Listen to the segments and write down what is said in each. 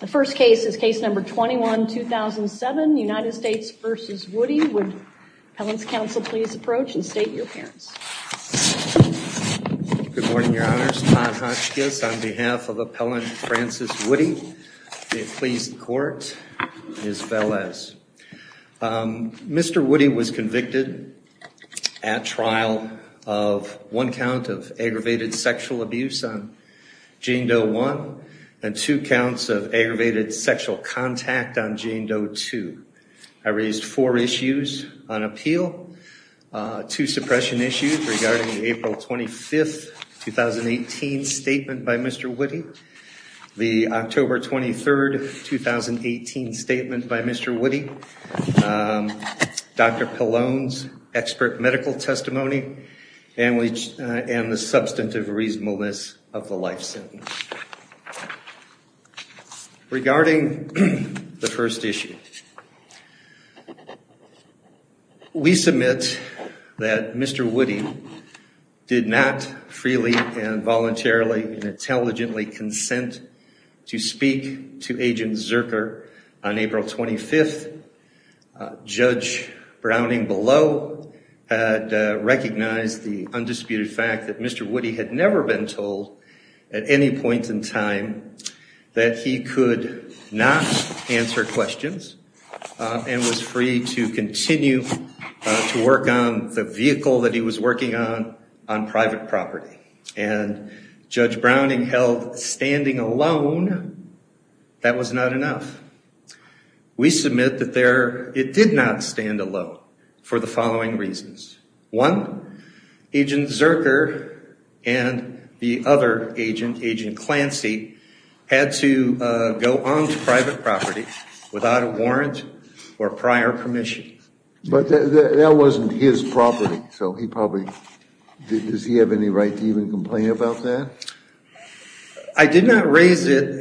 The first case is case number 21-2007, United States v. Woody. Would the Appellant's counsel please approach and state your appearance? Good morning, Your Honors. Todd Hotchkiss on behalf of Appellant Francis Woody. Please court, Ms. Velez. Mr. Woody was convicted at trial of one count of aggravated sexual abuse on Jane Doe 1 and two counts of aggravated sexual contact on Jane Doe 2. I raised four issues on appeal. Two suppression issues regarding the April 25, 2018 statement by Mr. Woody, the October 23, 2018 statement by Mr. Woody, Dr. Pallone's expert medical testimony, and the substantive reasonableness of the life sentence. Regarding the first issue, we submit that Mr. Woody did not freely and voluntarily and intelligently consent to speak to Agent Zerker on April 25. Judge Browning below had recognized the undisputed fact that Mr. Woody had never been told at any point in time that he could not answer questions and was free to continue to work on the vehicle that he was working on on private property. And Judge Browning held standing alone, that was not enough. We submit that it did not stand alone for the following reasons. One, Agent Zerker and the other agent, Agent Clancy, had to go on to private property without a warrant or prior permission. But that wasn't his property, so he probably, does he have any right to even complain about that? I did not raise it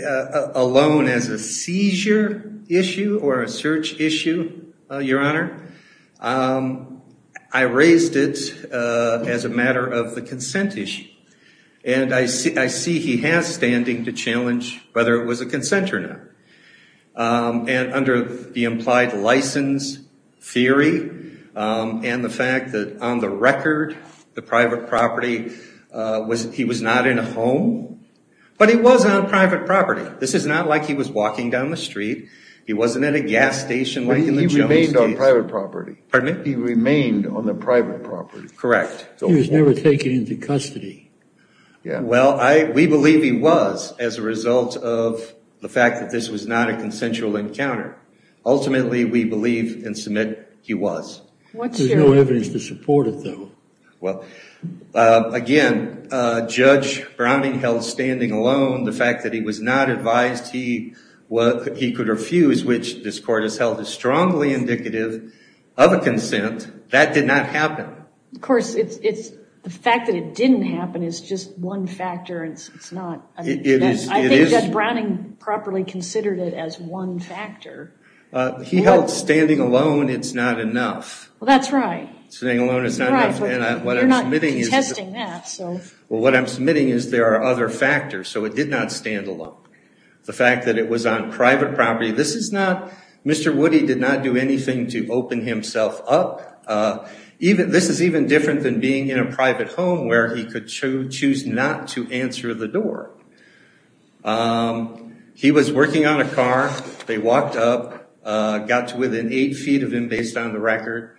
alone as a seizure issue or a search issue, Your Honor. I raised it as a matter of the consent issue. And I see he has standing to challenge whether it was a consent or not. And under the implied license theory and the fact that on the record, the private property, he was not in a home. But he was on private property. This is not like he was walking down the street. He wasn't at a gas station like in the Jones case. He remained on private property. Pardon me? He remained on the private property. Correct. He was never taken into custody. Well, we believe he was as a result of the fact that this was not a consensual encounter. Ultimately, we believe and submit he was. There's no evidence to support it, though. Well, again, Judge Browning held standing alone the fact that he was not advised he could refuse, which this Court has held as strongly indicative of a consent. That did not happen. Of course, the fact that it didn't happen is just one factor. It's not. I think Judge Browning properly considered it as one factor. He held standing alone, it's not enough. Well, that's right. Standing alone is not enough. You're not contesting that. Well, what I'm submitting is there are other factors. So it did not stand alone. The fact that it was on private property. This is not Mr. Woody did not do anything to open himself up. This is even different than being in a private home where he could choose not to answer the door. He was working on a car. They walked up, got to within eight feet of him based on the record.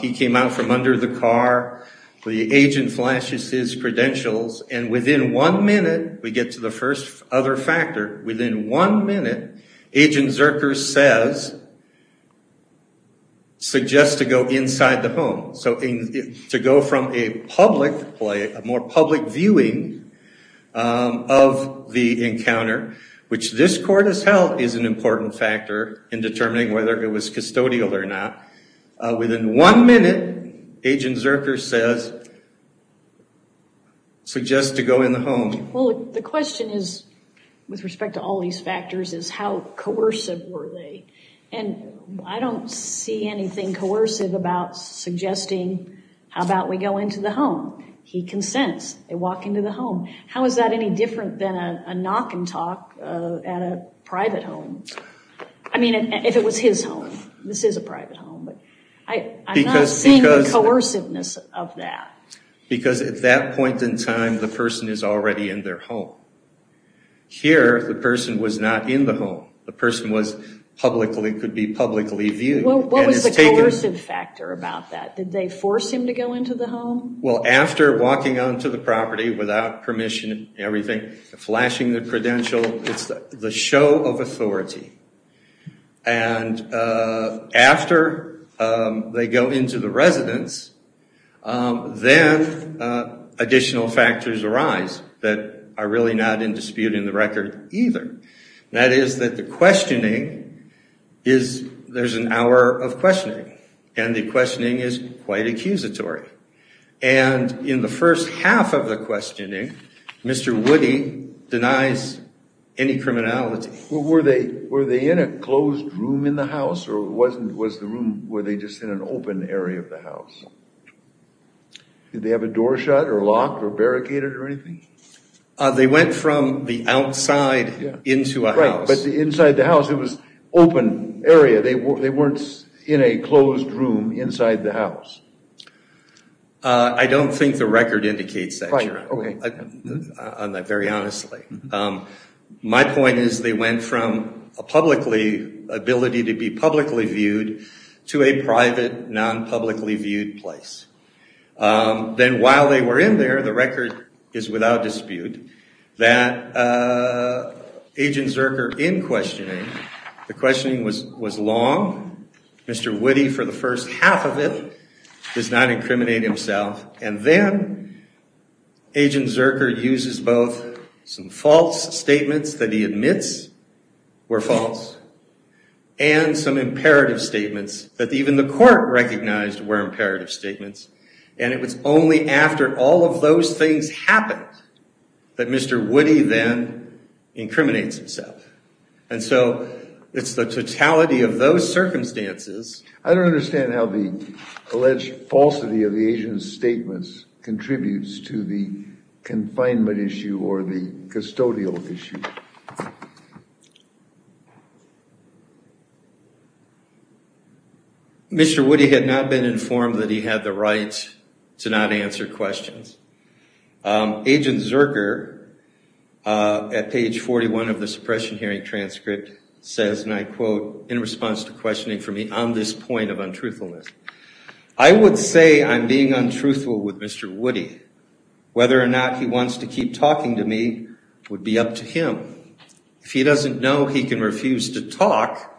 He came out from under the car. The agent flashes his credentials, and within one minute, we get to the first other factor, within one minute, Agent Zerker says, suggest to go inside the home. So to go from a public, a more public viewing of the encounter, which this court has held is an important factor in determining whether it was custodial or not. Within one minute, Agent Zerker says, suggest to go in the home. Well, the question is, with respect to all these factors, is how coercive were they? And I don't see anything coercive about suggesting, how about we go into the home? He consents. They walk into the home. How is that any different than a knock and talk at a private home? I mean, if it was his home. This is a private home, but I'm not seeing the coerciveness of that. Because at that point in time, the person is already in their home. Here, the person was not in the home. The person was publicly, could be publicly viewed. What was the coercive factor about that? Did they force him to go into the home? Well, after walking onto the property without permission and everything, flashing the credential, it's the show of authority. And after they go into the residence, then additional factors arise that are really not in dispute in the record either. That is that the questioning is, there's an hour of questioning. And the questioning is quite accusatory. And in the first half of the questioning, Mr. Woody denies any criminality. Were they in a closed room in the house? Or was the room, were they just in an open area of the house? Did they have a door shut or locked or barricaded or anything? They went from the outside into a house. Right, but inside the house, it was open area. They weren't in a closed room inside the house. I don't think the record indicates that. Right, okay. Very honestly. My point is they went from a publicly, ability to be publicly viewed to a private, non-publicly viewed place. Then while they were in there, the record is without dispute that Agent Zerker, in questioning, the questioning was long. Mr. Woody, for the first half of it, does not incriminate himself. And then Agent Zerker uses both some false statements that he admits were false and some imperative statements that even the court recognized were imperative statements. And it was only after all of those things happened that Mr. Woody then incriminates himself. And so it's the totality of those circumstances. I don't understand how the alleged falsity of the agent's statements contributes to the confinement issue or the custodial issue. Mr. Woody had not been informed that he had the right to not answer questions. Agent Zerker, at page 41 of the suppression hearing transcript, says, and I quote, in response to questioning from me, on this point of untruthfulness, I would say I'm being untruthful with Mr. Woody. Whether or not he wants to keep talking to me would be up to him. If he doesn't know he can refuse to talk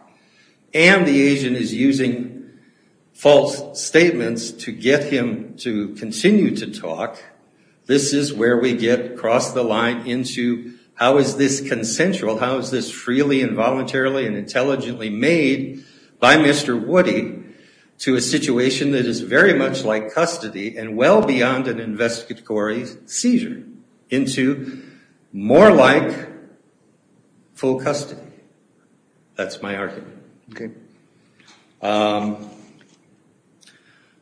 and the agent is using false statements to get him to continue to talk, this is where we get across the line into how is this consensual, how is this freely and voluntarily and intelligently made by Mr. Woody to a situation that is very much like custody and well beyond an investigatory seizure into more like full custody. That's my argument.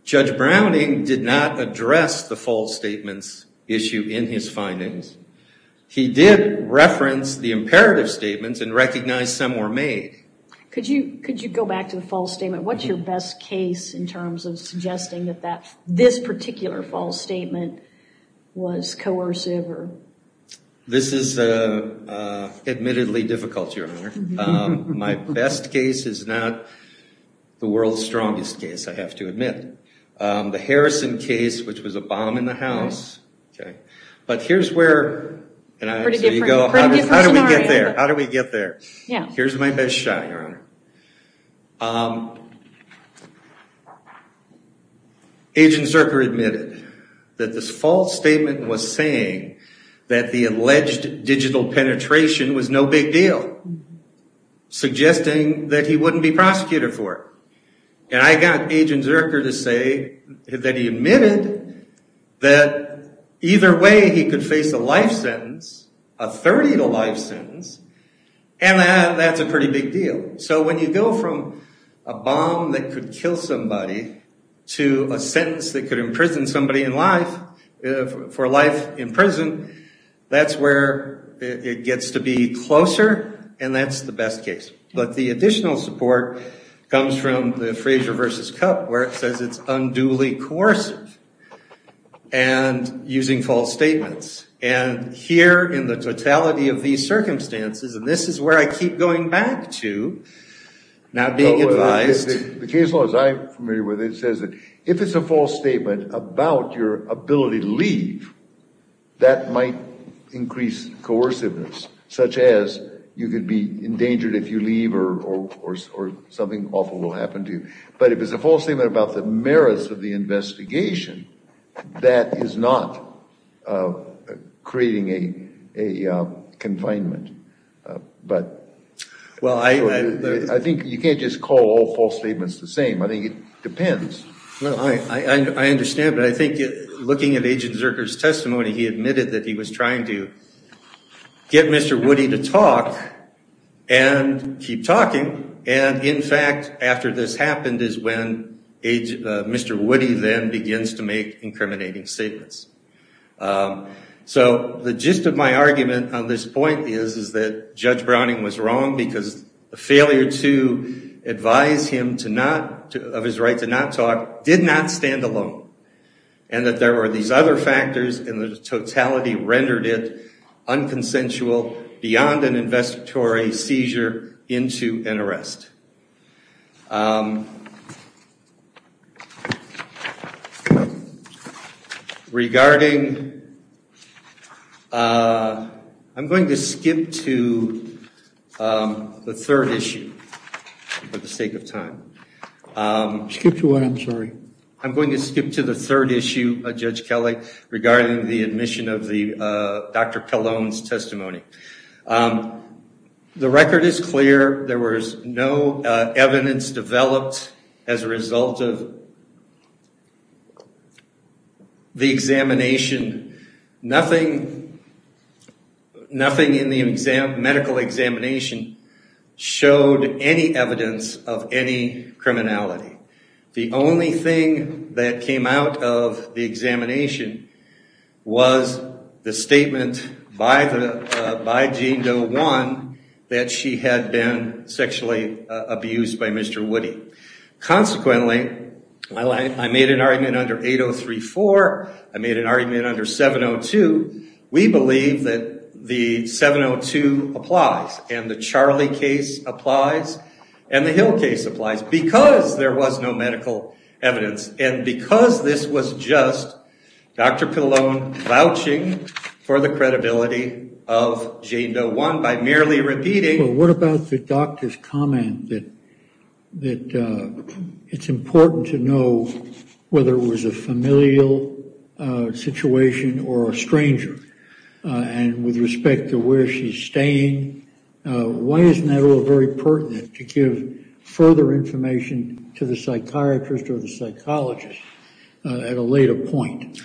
Judge Browning did not address the false statements issue in his findings. He did reference the imperative statements and recognize some were made. Could you go back to the false statement? What's your best case in terms of suggesting that this particular false statement was coercive? This is admittedly difficult, Your Honor. My best case is not the world's strongest case, I have to admit. The Harrison case, which was a bomb in the house, but here's where... Pretty different scenario. How did we get there? Here's my best shot, Your Honor. Agent Zuercher admitted that this false statement was saying that the alleged digital penetration was no big deal, suggesting that he wouldn't be prosecuted for it. And I got Agent Zuercher to say that he admitted that either way he could face a life sentence, a 30-to-life sentence, and that's a pretty big deal. So when you go from a bomb that could kill somebody to a sentence that could imprison somebody for life in prison, that's where it gets to be closer, and that's the best case. But the additional support comes from the Frazier v. Cup where it says it's unduly coercive and using false statements. And here in the totality of these circumstances, and this is where I keep going back to, not being advised... The case law, as I'm familiar with it, says that if it's a false statement about your ability to leave, that might increase coerciveness, such as you could be endangered if you leave or something awful will happen to you. But if it's a false statement about the merits of the investigation, that is not creating a confinement. I think you can't just call all false statements the same. I think it depends. I understand, but I think looking at Agent Zuercher's testimony, he admitted that he was trying to get Mr. Woody to talk and keep talking. And in fact, after this happened is when Mr. Woody then begins to make incriminating statements. So the gist of my argument on this point is that Judge Browning was wrong because the failure to advise him of his right to not talk did not stand alone, and that there were these other factors, and the totality rendered it unconsensual beyond an investigatory seizure into an arrest. Regarding... I'm going to skip to the third issue for the sake of time. Skip to what, I'm sorry? I'm going to skip to the third issue, Judge Kelly, regarding the admission of Dr. Cologne's testimony. The record is clear. There was no evidence developed as a result of the examination. Nothing in the medical examination showed any evidence of any criminality. The only thing that came out of the examination was the statement by Jean Doe 1 that she had been sexually abused by Mr. Woody. Consequently, while I made an argument under 8034, I made an argument under 702, we believe that the 702 applies, and the Charlie case applies, and the Hill case applies, because there was no medical evidence, and because this was just Dr. Cologne vouching for the credibility of Jean Doe 1 by merely repeating... Well, what about the doctor's comment that it's important to know whether it was a familial situation or a stranger, and with respect to where she's staying, why isn't that all very pertinent to give further information to the psychiatrist or the psychologist at a later point?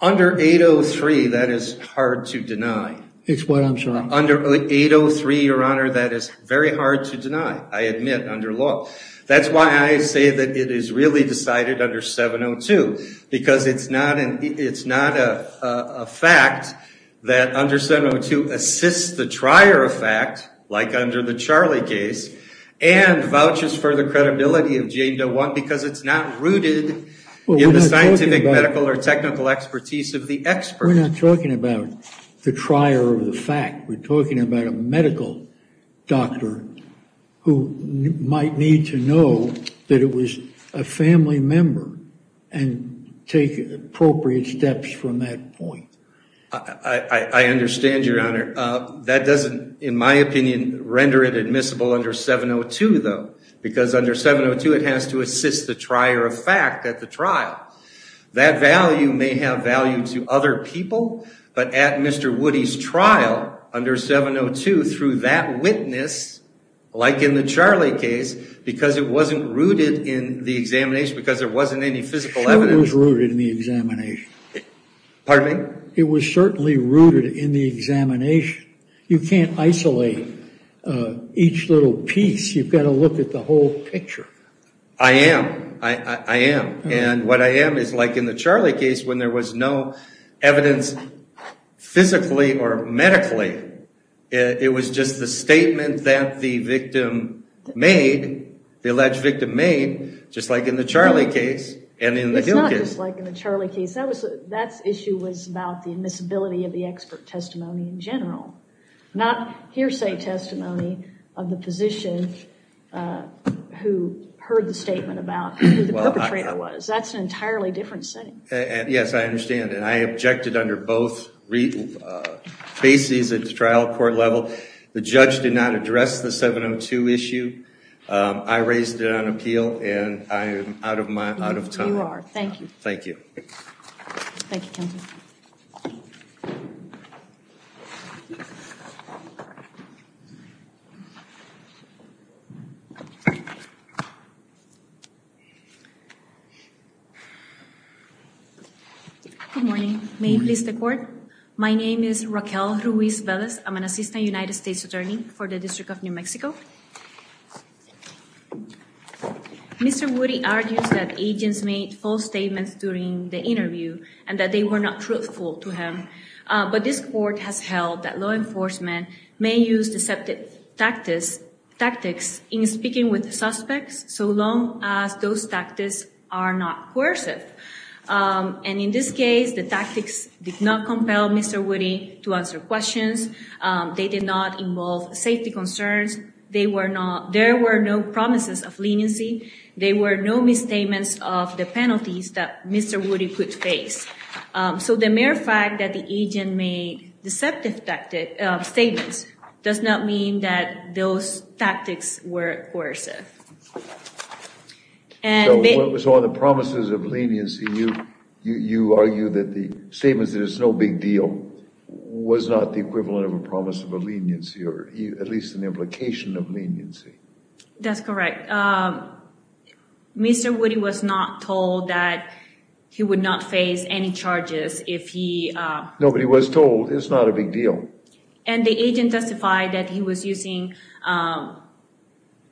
Under 803, that is hard to deny. It's what, I'm sorry? Under 803, Your Honor, that is very hard to deny, I admit, under law. That's why I say that it is really decided under 702, because it's not a fact that under 702 assists the trier of fact, like under the Charlie case, and vouches for the credibility of Jean Doe 1, because it's not rooted in the scientific, medical, or technical expertise of the expert. We're not talking about the trier of the fact. We're talking about a medical doctor who might need to know that it was a family member and take appropriate steps from that point. I understand, Your Honor. That doesn't, in my opinion, render it admissible under 702, though, because under 702 it has to assist the trier of fact at the trial. That value may have value to other people, but at Mr. Woody's trial under 702, through that witness, like in the Charlie case, because it wasn't rooted in the examination, because there wasn't any physical evidence. Sure it was rooted in the examination. Pardon me? It was certainly rooted in the examination. You can't isolate each little piece. You've got to look at the whole picture. I am. I am. And what I am is like in the Charlie case when there was no evidence physically or medically. It was just the statement that the victim made, the alleged victim made, just like in the Charlie case and in the Hill case. It's not just like in the Charlie case. That issue was about the admissibility of the expert testimony in general, not hearsay testimony of the physician who heard the statement about who the perpetrator was. That's an entirely different setting. Yes, I understand, and I objected under both bases at the trial court level. The judge did not address the 702 issue. I raised it on appeal, and I am out of time. You are. Thank you. Thank you. Thank you, counsel. Thank you. Good morning. May you please take the floor? My name is Raquel Ruiz-Velez. I'm an assistant United States attorney for the District of New Mexico. Mr. Woody argues that agents made false statements during the interview and that they were not truthful to him, but this court has held that law enforcement may use deceptive tactics in speaking with suspects so long as those tactics are not coercive. And in this case, the tactics did not compel Mr. Woody to answer questions. They did not involve safety concerns. There were no promises of leniency. There were no misstatements of the penalties that Mr. Woody could face. So the mere fact that the agent made deceptive statements does not mean that those tactics were coercive. So on the promises of leniency, you argue that the statements that it's no big deal was not the equivalent of a promise of leniency, or at least an implication of leniency. That's correct. Mr. Woody was not told that he would not face any charges if he... Nobody was told it's not a big deal. And the agent testified that he was using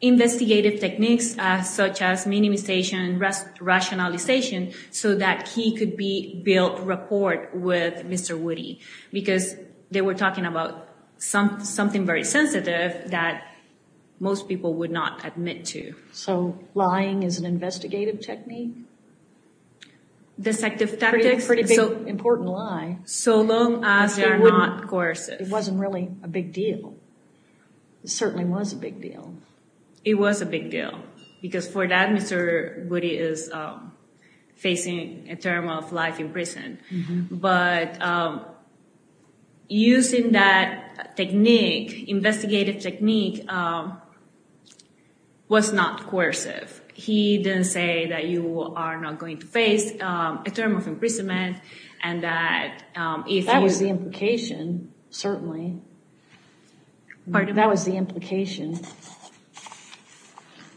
investigative techniques such as minimization, rationalization so that he could be built report with Mr. Woody, because they were talking about something very sensitive that most people would not admit to. So lying is an investigative technique? Deceptive tactics. Pretty big, important lie. So long as they're not coercive. It wasn't really a big deal. It certainly was a big deal. It was a big deal, because for that, Mr. Woody is facing a term of life in prison. But using that technique, investigative technique, was not coercive. He didn't say that you are not going to face a term of imprisonment and that if... That was the implication, certainly. Pardon? That was the implication.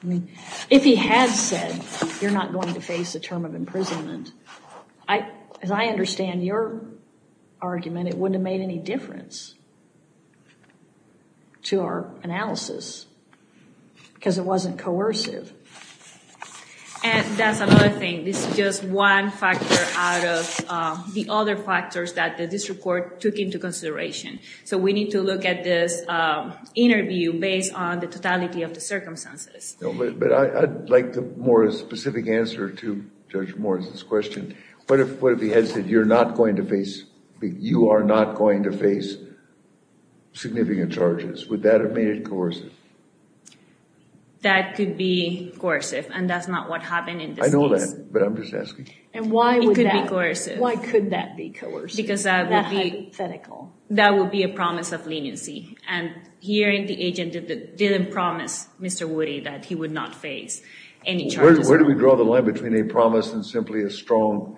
I mean, if he had said you're not going to face a term of imprisonment, as I understand your argument, it wouldn't have made any difference to our analysis, because it wasn't coercive. And that's another thing. This is just one factor out of the other factors that this report took into consideration. So we need to look at this interview based on the totality of the circumstances. But I'd like a more specific answer to Judge Morris's question. What if he had said you're not going to face significant charges? Would that have made it coercive? That could be coercive, and that's not what happened in this case. I know that, but I'm just asking. It could be coercive. Why could that be coercive? Because that would be a promise of leniency. And hearing the agent didn't promise Mr. Woody that he would not face any charges. Where do we draw the line between a promise and simply a strong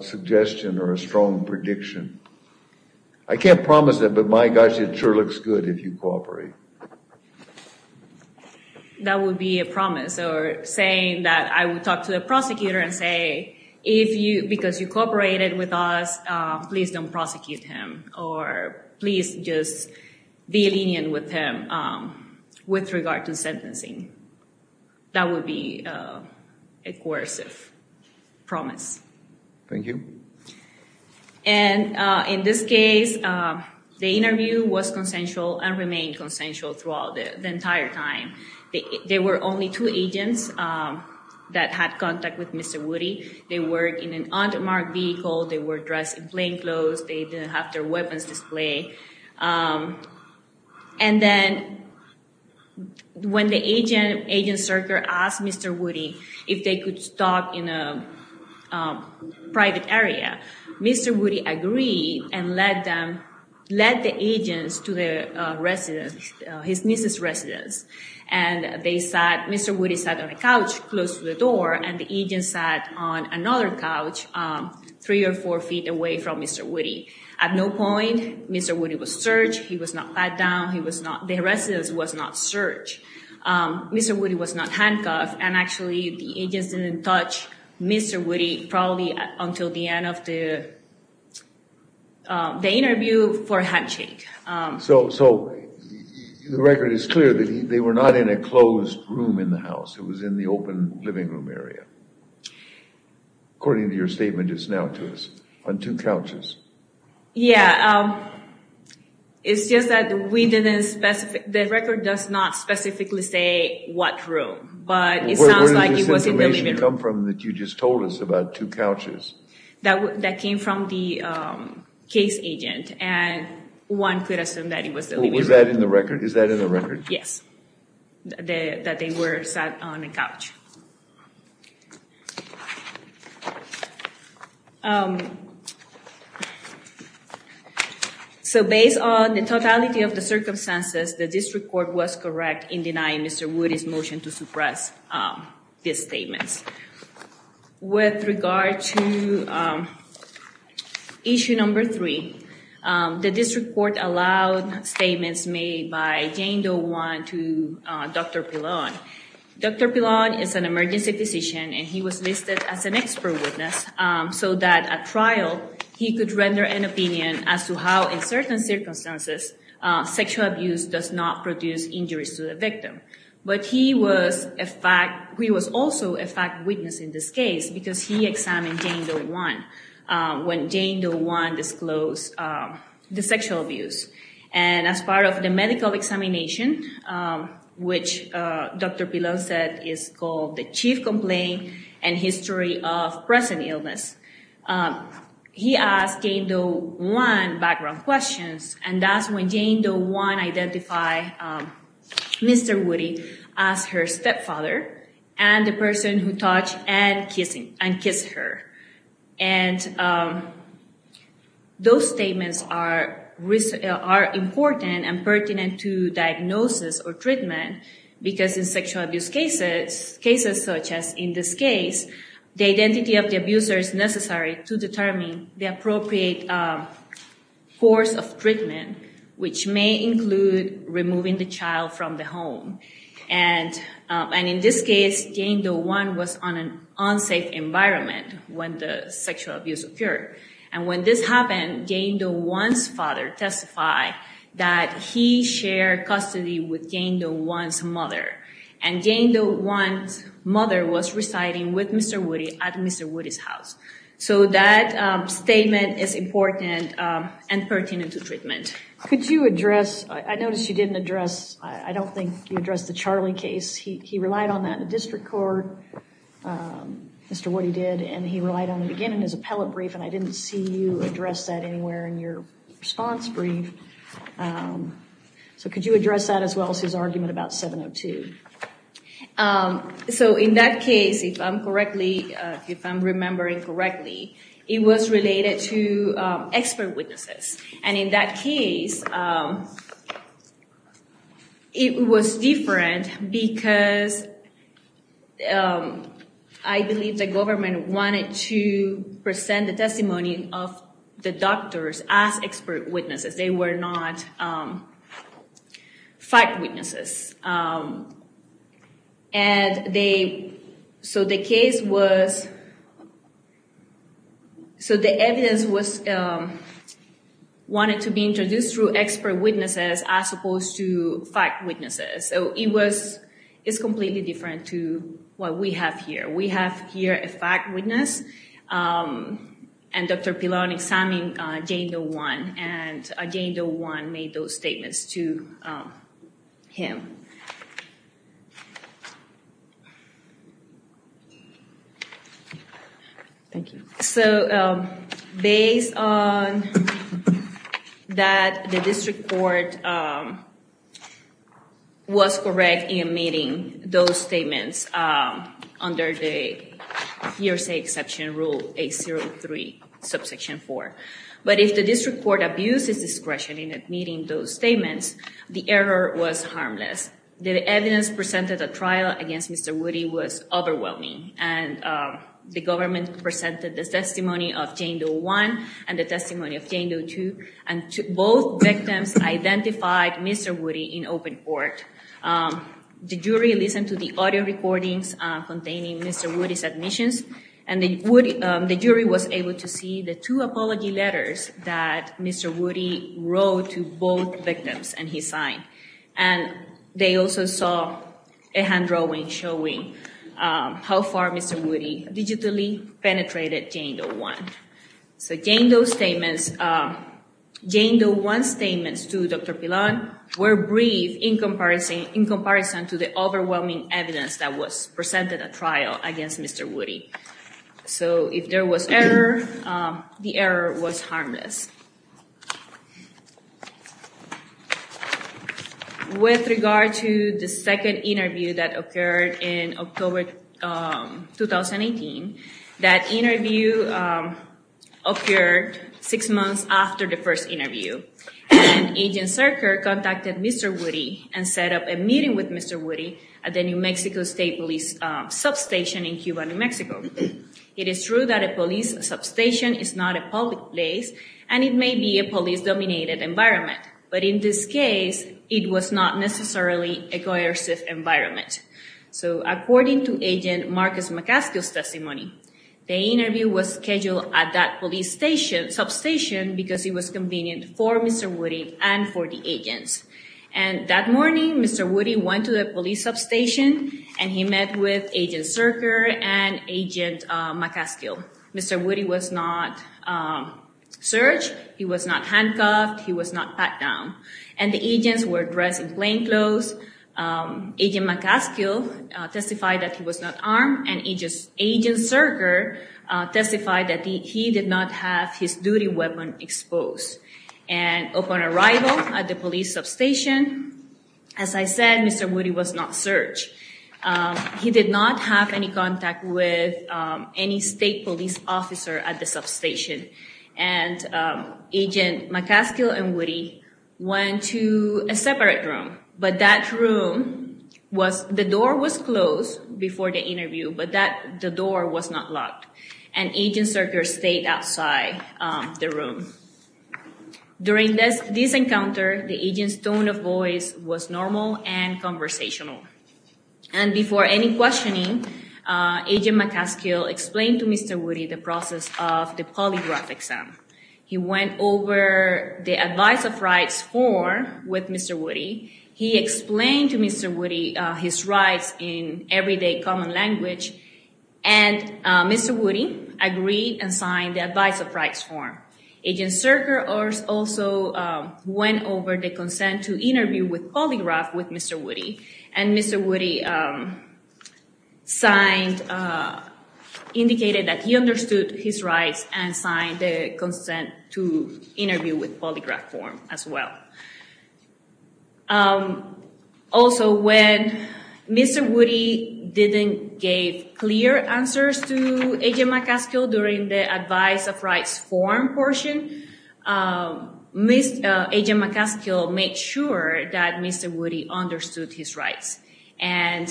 suggestion or a strong prediction? I can't promise it, but my gosh, it sure looks good if you cooperate. That would be a promise or saying that I would talk to the prosecutor and say, because you cooperated with us, please don't prosecute him or please just be lenient with him with regard to sentencing. That would be a coercive promise. Thank you. And in this case, the interview was consensual and remained consensual throughout the entire time. There were only two agents that had contact with Mr. Woody. They were in an under-marked vehicle. They were dressed in plain clothes. They didn't have their weapons displayed. And then when the agent, agent Serker, asked Mr. Woody if they could talk in a private area, Mr. Woody agreed and led them, led the agents to the residence, his niece's residence. And they sat, Mr. Woody sat on a couch close to the door and the agent sat on another couch three or four feet away from Mr. Woody. At no point, Mr. Woody was searched. He was not pat down. He was not, the residence was not searched. Mr. Woody was not handcuffed. And actually, the agents didn't touch Mr. Woody probably until the end of the interview for a handshake. So the record is clear that they were not in a closed room in the house. It was in the open living room area, according to your statement just now to us, on two couches. Yeah. It's just that we didn't specify, the record does not specifically say what room. But it sounds like it was in the living room. Where did this information come from that you just told us about two couches? That came from the case agent. And one could assume that it was the living room. Is that in the record? Yes, that they were sat on a couch. So based on the totality of the circumstances, the district court was correct in denying Mr. Woody's motion to suppress these statements. With regard to issue number three, the district court allowed statements made by Jane Doe Wan to Dr. Pilon. Dr. Pilon is an emergency physician and he was listed as an expert witness so that at trial he could render an opinion as to how, in certain circumstances, sexual abuse does not produce injuries to the victim. But he was also a fact witness in this case because he examined Jane Doe Wan when Jane Doe Wan disclosed the sexual abuse. And as part of the medical examination, which Dr. Pilon said is called the chief complaint and history of present illness, he asked Jane Doe Wan background questions. And that's when Jane Doe Wan identified Mr. Woody as her stepfather and the person who touched and kissed her. And those statements are important and pertinent to diagnosis or treatment because in sexual abuse cases, cases such as in this case, the identity of the abuser is necessary to determine the appropriate course of treatment, which may include removing the child from the home. And in this case, Jane Doe Wan was on an unsafe environment when the sexual abuse occurred. And when this happened, Jane Doe Wan's father testified that he shared custody with Jane Doe Wan's mother. And Jane Doe Wan's mother was residing with Mr. Woody at Mr. Woody's house. So that statement is important and pertinent to treatment. Could you address, I noticed you didn't address, I don't think you addressed the Charlie case. He relied on that in the district court, Mr. Woody did, and he relied on it again in his appellate brief. And I didn't see you address that anywhere in your response brief. So could you address that as well as his argument about 702? So in that case, if I'm remembering correctly, it was related to expert witnesses. And in that case, it was different because I believe the government wanted to present the testimony of the doctors as expert witnesses. They were not fact witnesses. And they, so the case was, so the evidence was wanted to be introduced through expert witnesses as opposed to fact witnesses. So it was, it's completely different to what we have here. We have here a fact witness, and Dr. Pilon examined Jane Doe Wan, and Jane Doe Wan made those statements to him. Thank you. So based on that the district court was correct in admitting those statements under the hearsay exception rule 803, subsection 4. But if the district court abuses discretion in admitting those statements, the error was harmless. The evidence presented at trial against Mr. Woody was overwhelming. And the government presented the testimony of Jane Doe Wan and the testimony of Jane Doe too. And both victims identified Mr. Woody in open court. The jury listened to the audio recordings containing Mr. Woody's admissions. And the jury was able to see the two apology letters that Mr. Woody wrote to both victims and he signed. And they also saw a hand drawing showing how far Mr. Woody digitally penetrated Jane Doe Wan. So Jane Doe Wan's statements to Dr. Pilon were brief in comparison to the overwhelming evidence that was presented at trial against Mr. Woody. So if there was error, the error was harmless. With regard to the second interview that occurred in October 2018, that interview occurred six months after the first interview. And Agent Serker contacted Mr. Woody and set up a meeting with Mr. Woody at the New Mexico State Police substation in Cuba, New Mexico. It is true that a police substation is not a public place and it may be a police-dominated environment. But in this case, it was not necessarily a coercive environment. So according to Agent Marcus McCaskill's testimony, the interview was scheduled at that police substation because it was convenient for Mr. Woody and for the agents. And that morning, Mr. Woody went to the police substation and he met with Agent Serker and Agent McCaskill. Mr. Woody was not searched, he was not handcuffed, he was not pat down. And the agents were dressed in plainclothes. Agent McCaskill testified that he was not armed and Agent Serker testified that he did not have his duty weapon exposed. And upon arrival at the police substation, as I said, Mr. Woody was not searched. He did not have any contact with any state police officer at the substation. And Agent McCaskill and Woody went to a separate room. But that room was, the door was closed before the interview, but the door was not locked. And Agent Serker stayed outside the room. During this encounter, the agent's tone of voice was normal and conversational. And before any questioning, Agent McCaskill explained to Mr. Woody the process of the polygraph exam. He went over the advice of rights form with Mr. Woody. He explained to Mr. Woody his rights in everyday common language. And Mr. Woody agreed and signed the advice of rights form. Agent Serker also went over the consent to interview with polygraph with Mr. Woody. And Mr. Woody signed, indicated that he understood his rights and signed the consent to interview with polygraph form as well. Also, when Mr. Woody didn't give clear answers to Agent McCaskill during the advice of rights form portion, Agent McCaskill made sure that Mr. Woody understood his rights. And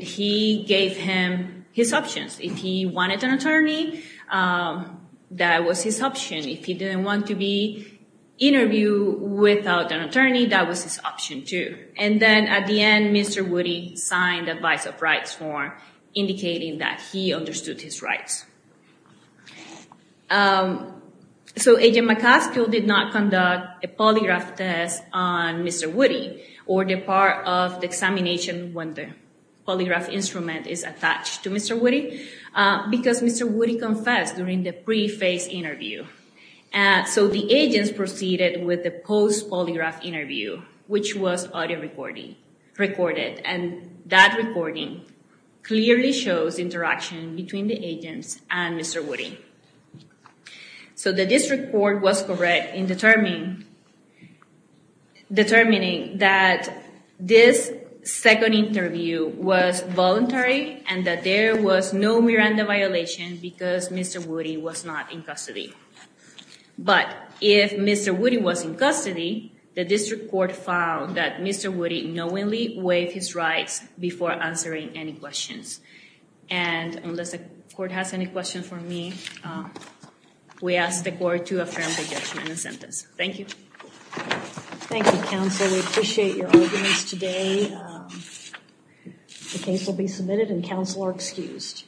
he gave him his options. If he wanted an attorney, that was his option. If he didn't want to be interviewed without an attorney, that was his option too. And then at the end, Mr. Woody signed the advice of rights form, indicating that he understood his rights. So Agent McCaskill did not conduct a polygraph test on Mr. Woody or the part of the examination when the polygraph instrument is attached to Mr. Woody because Mr. Woody confessed during the pre-face interview. So the agents proceeded with the post-polygraph interview, which was audio recorded. And that recording clearly shows interaction between the agents and Mr. Woody. So the district court was correct in determining that this second interview was voluntary and that there was no Miranda violation because Mr. Woody was not in custody. But if Mr. Woody was in custody, the district court found that Mr. Woody knowingly waived his rights before answering any questions. And unless the court has any questions for me, we ask the court to affirm the judgment and sentence. Thank you. Thank you, counsel. We appreciate your arguments today. The case will be submitted and counsel are excused.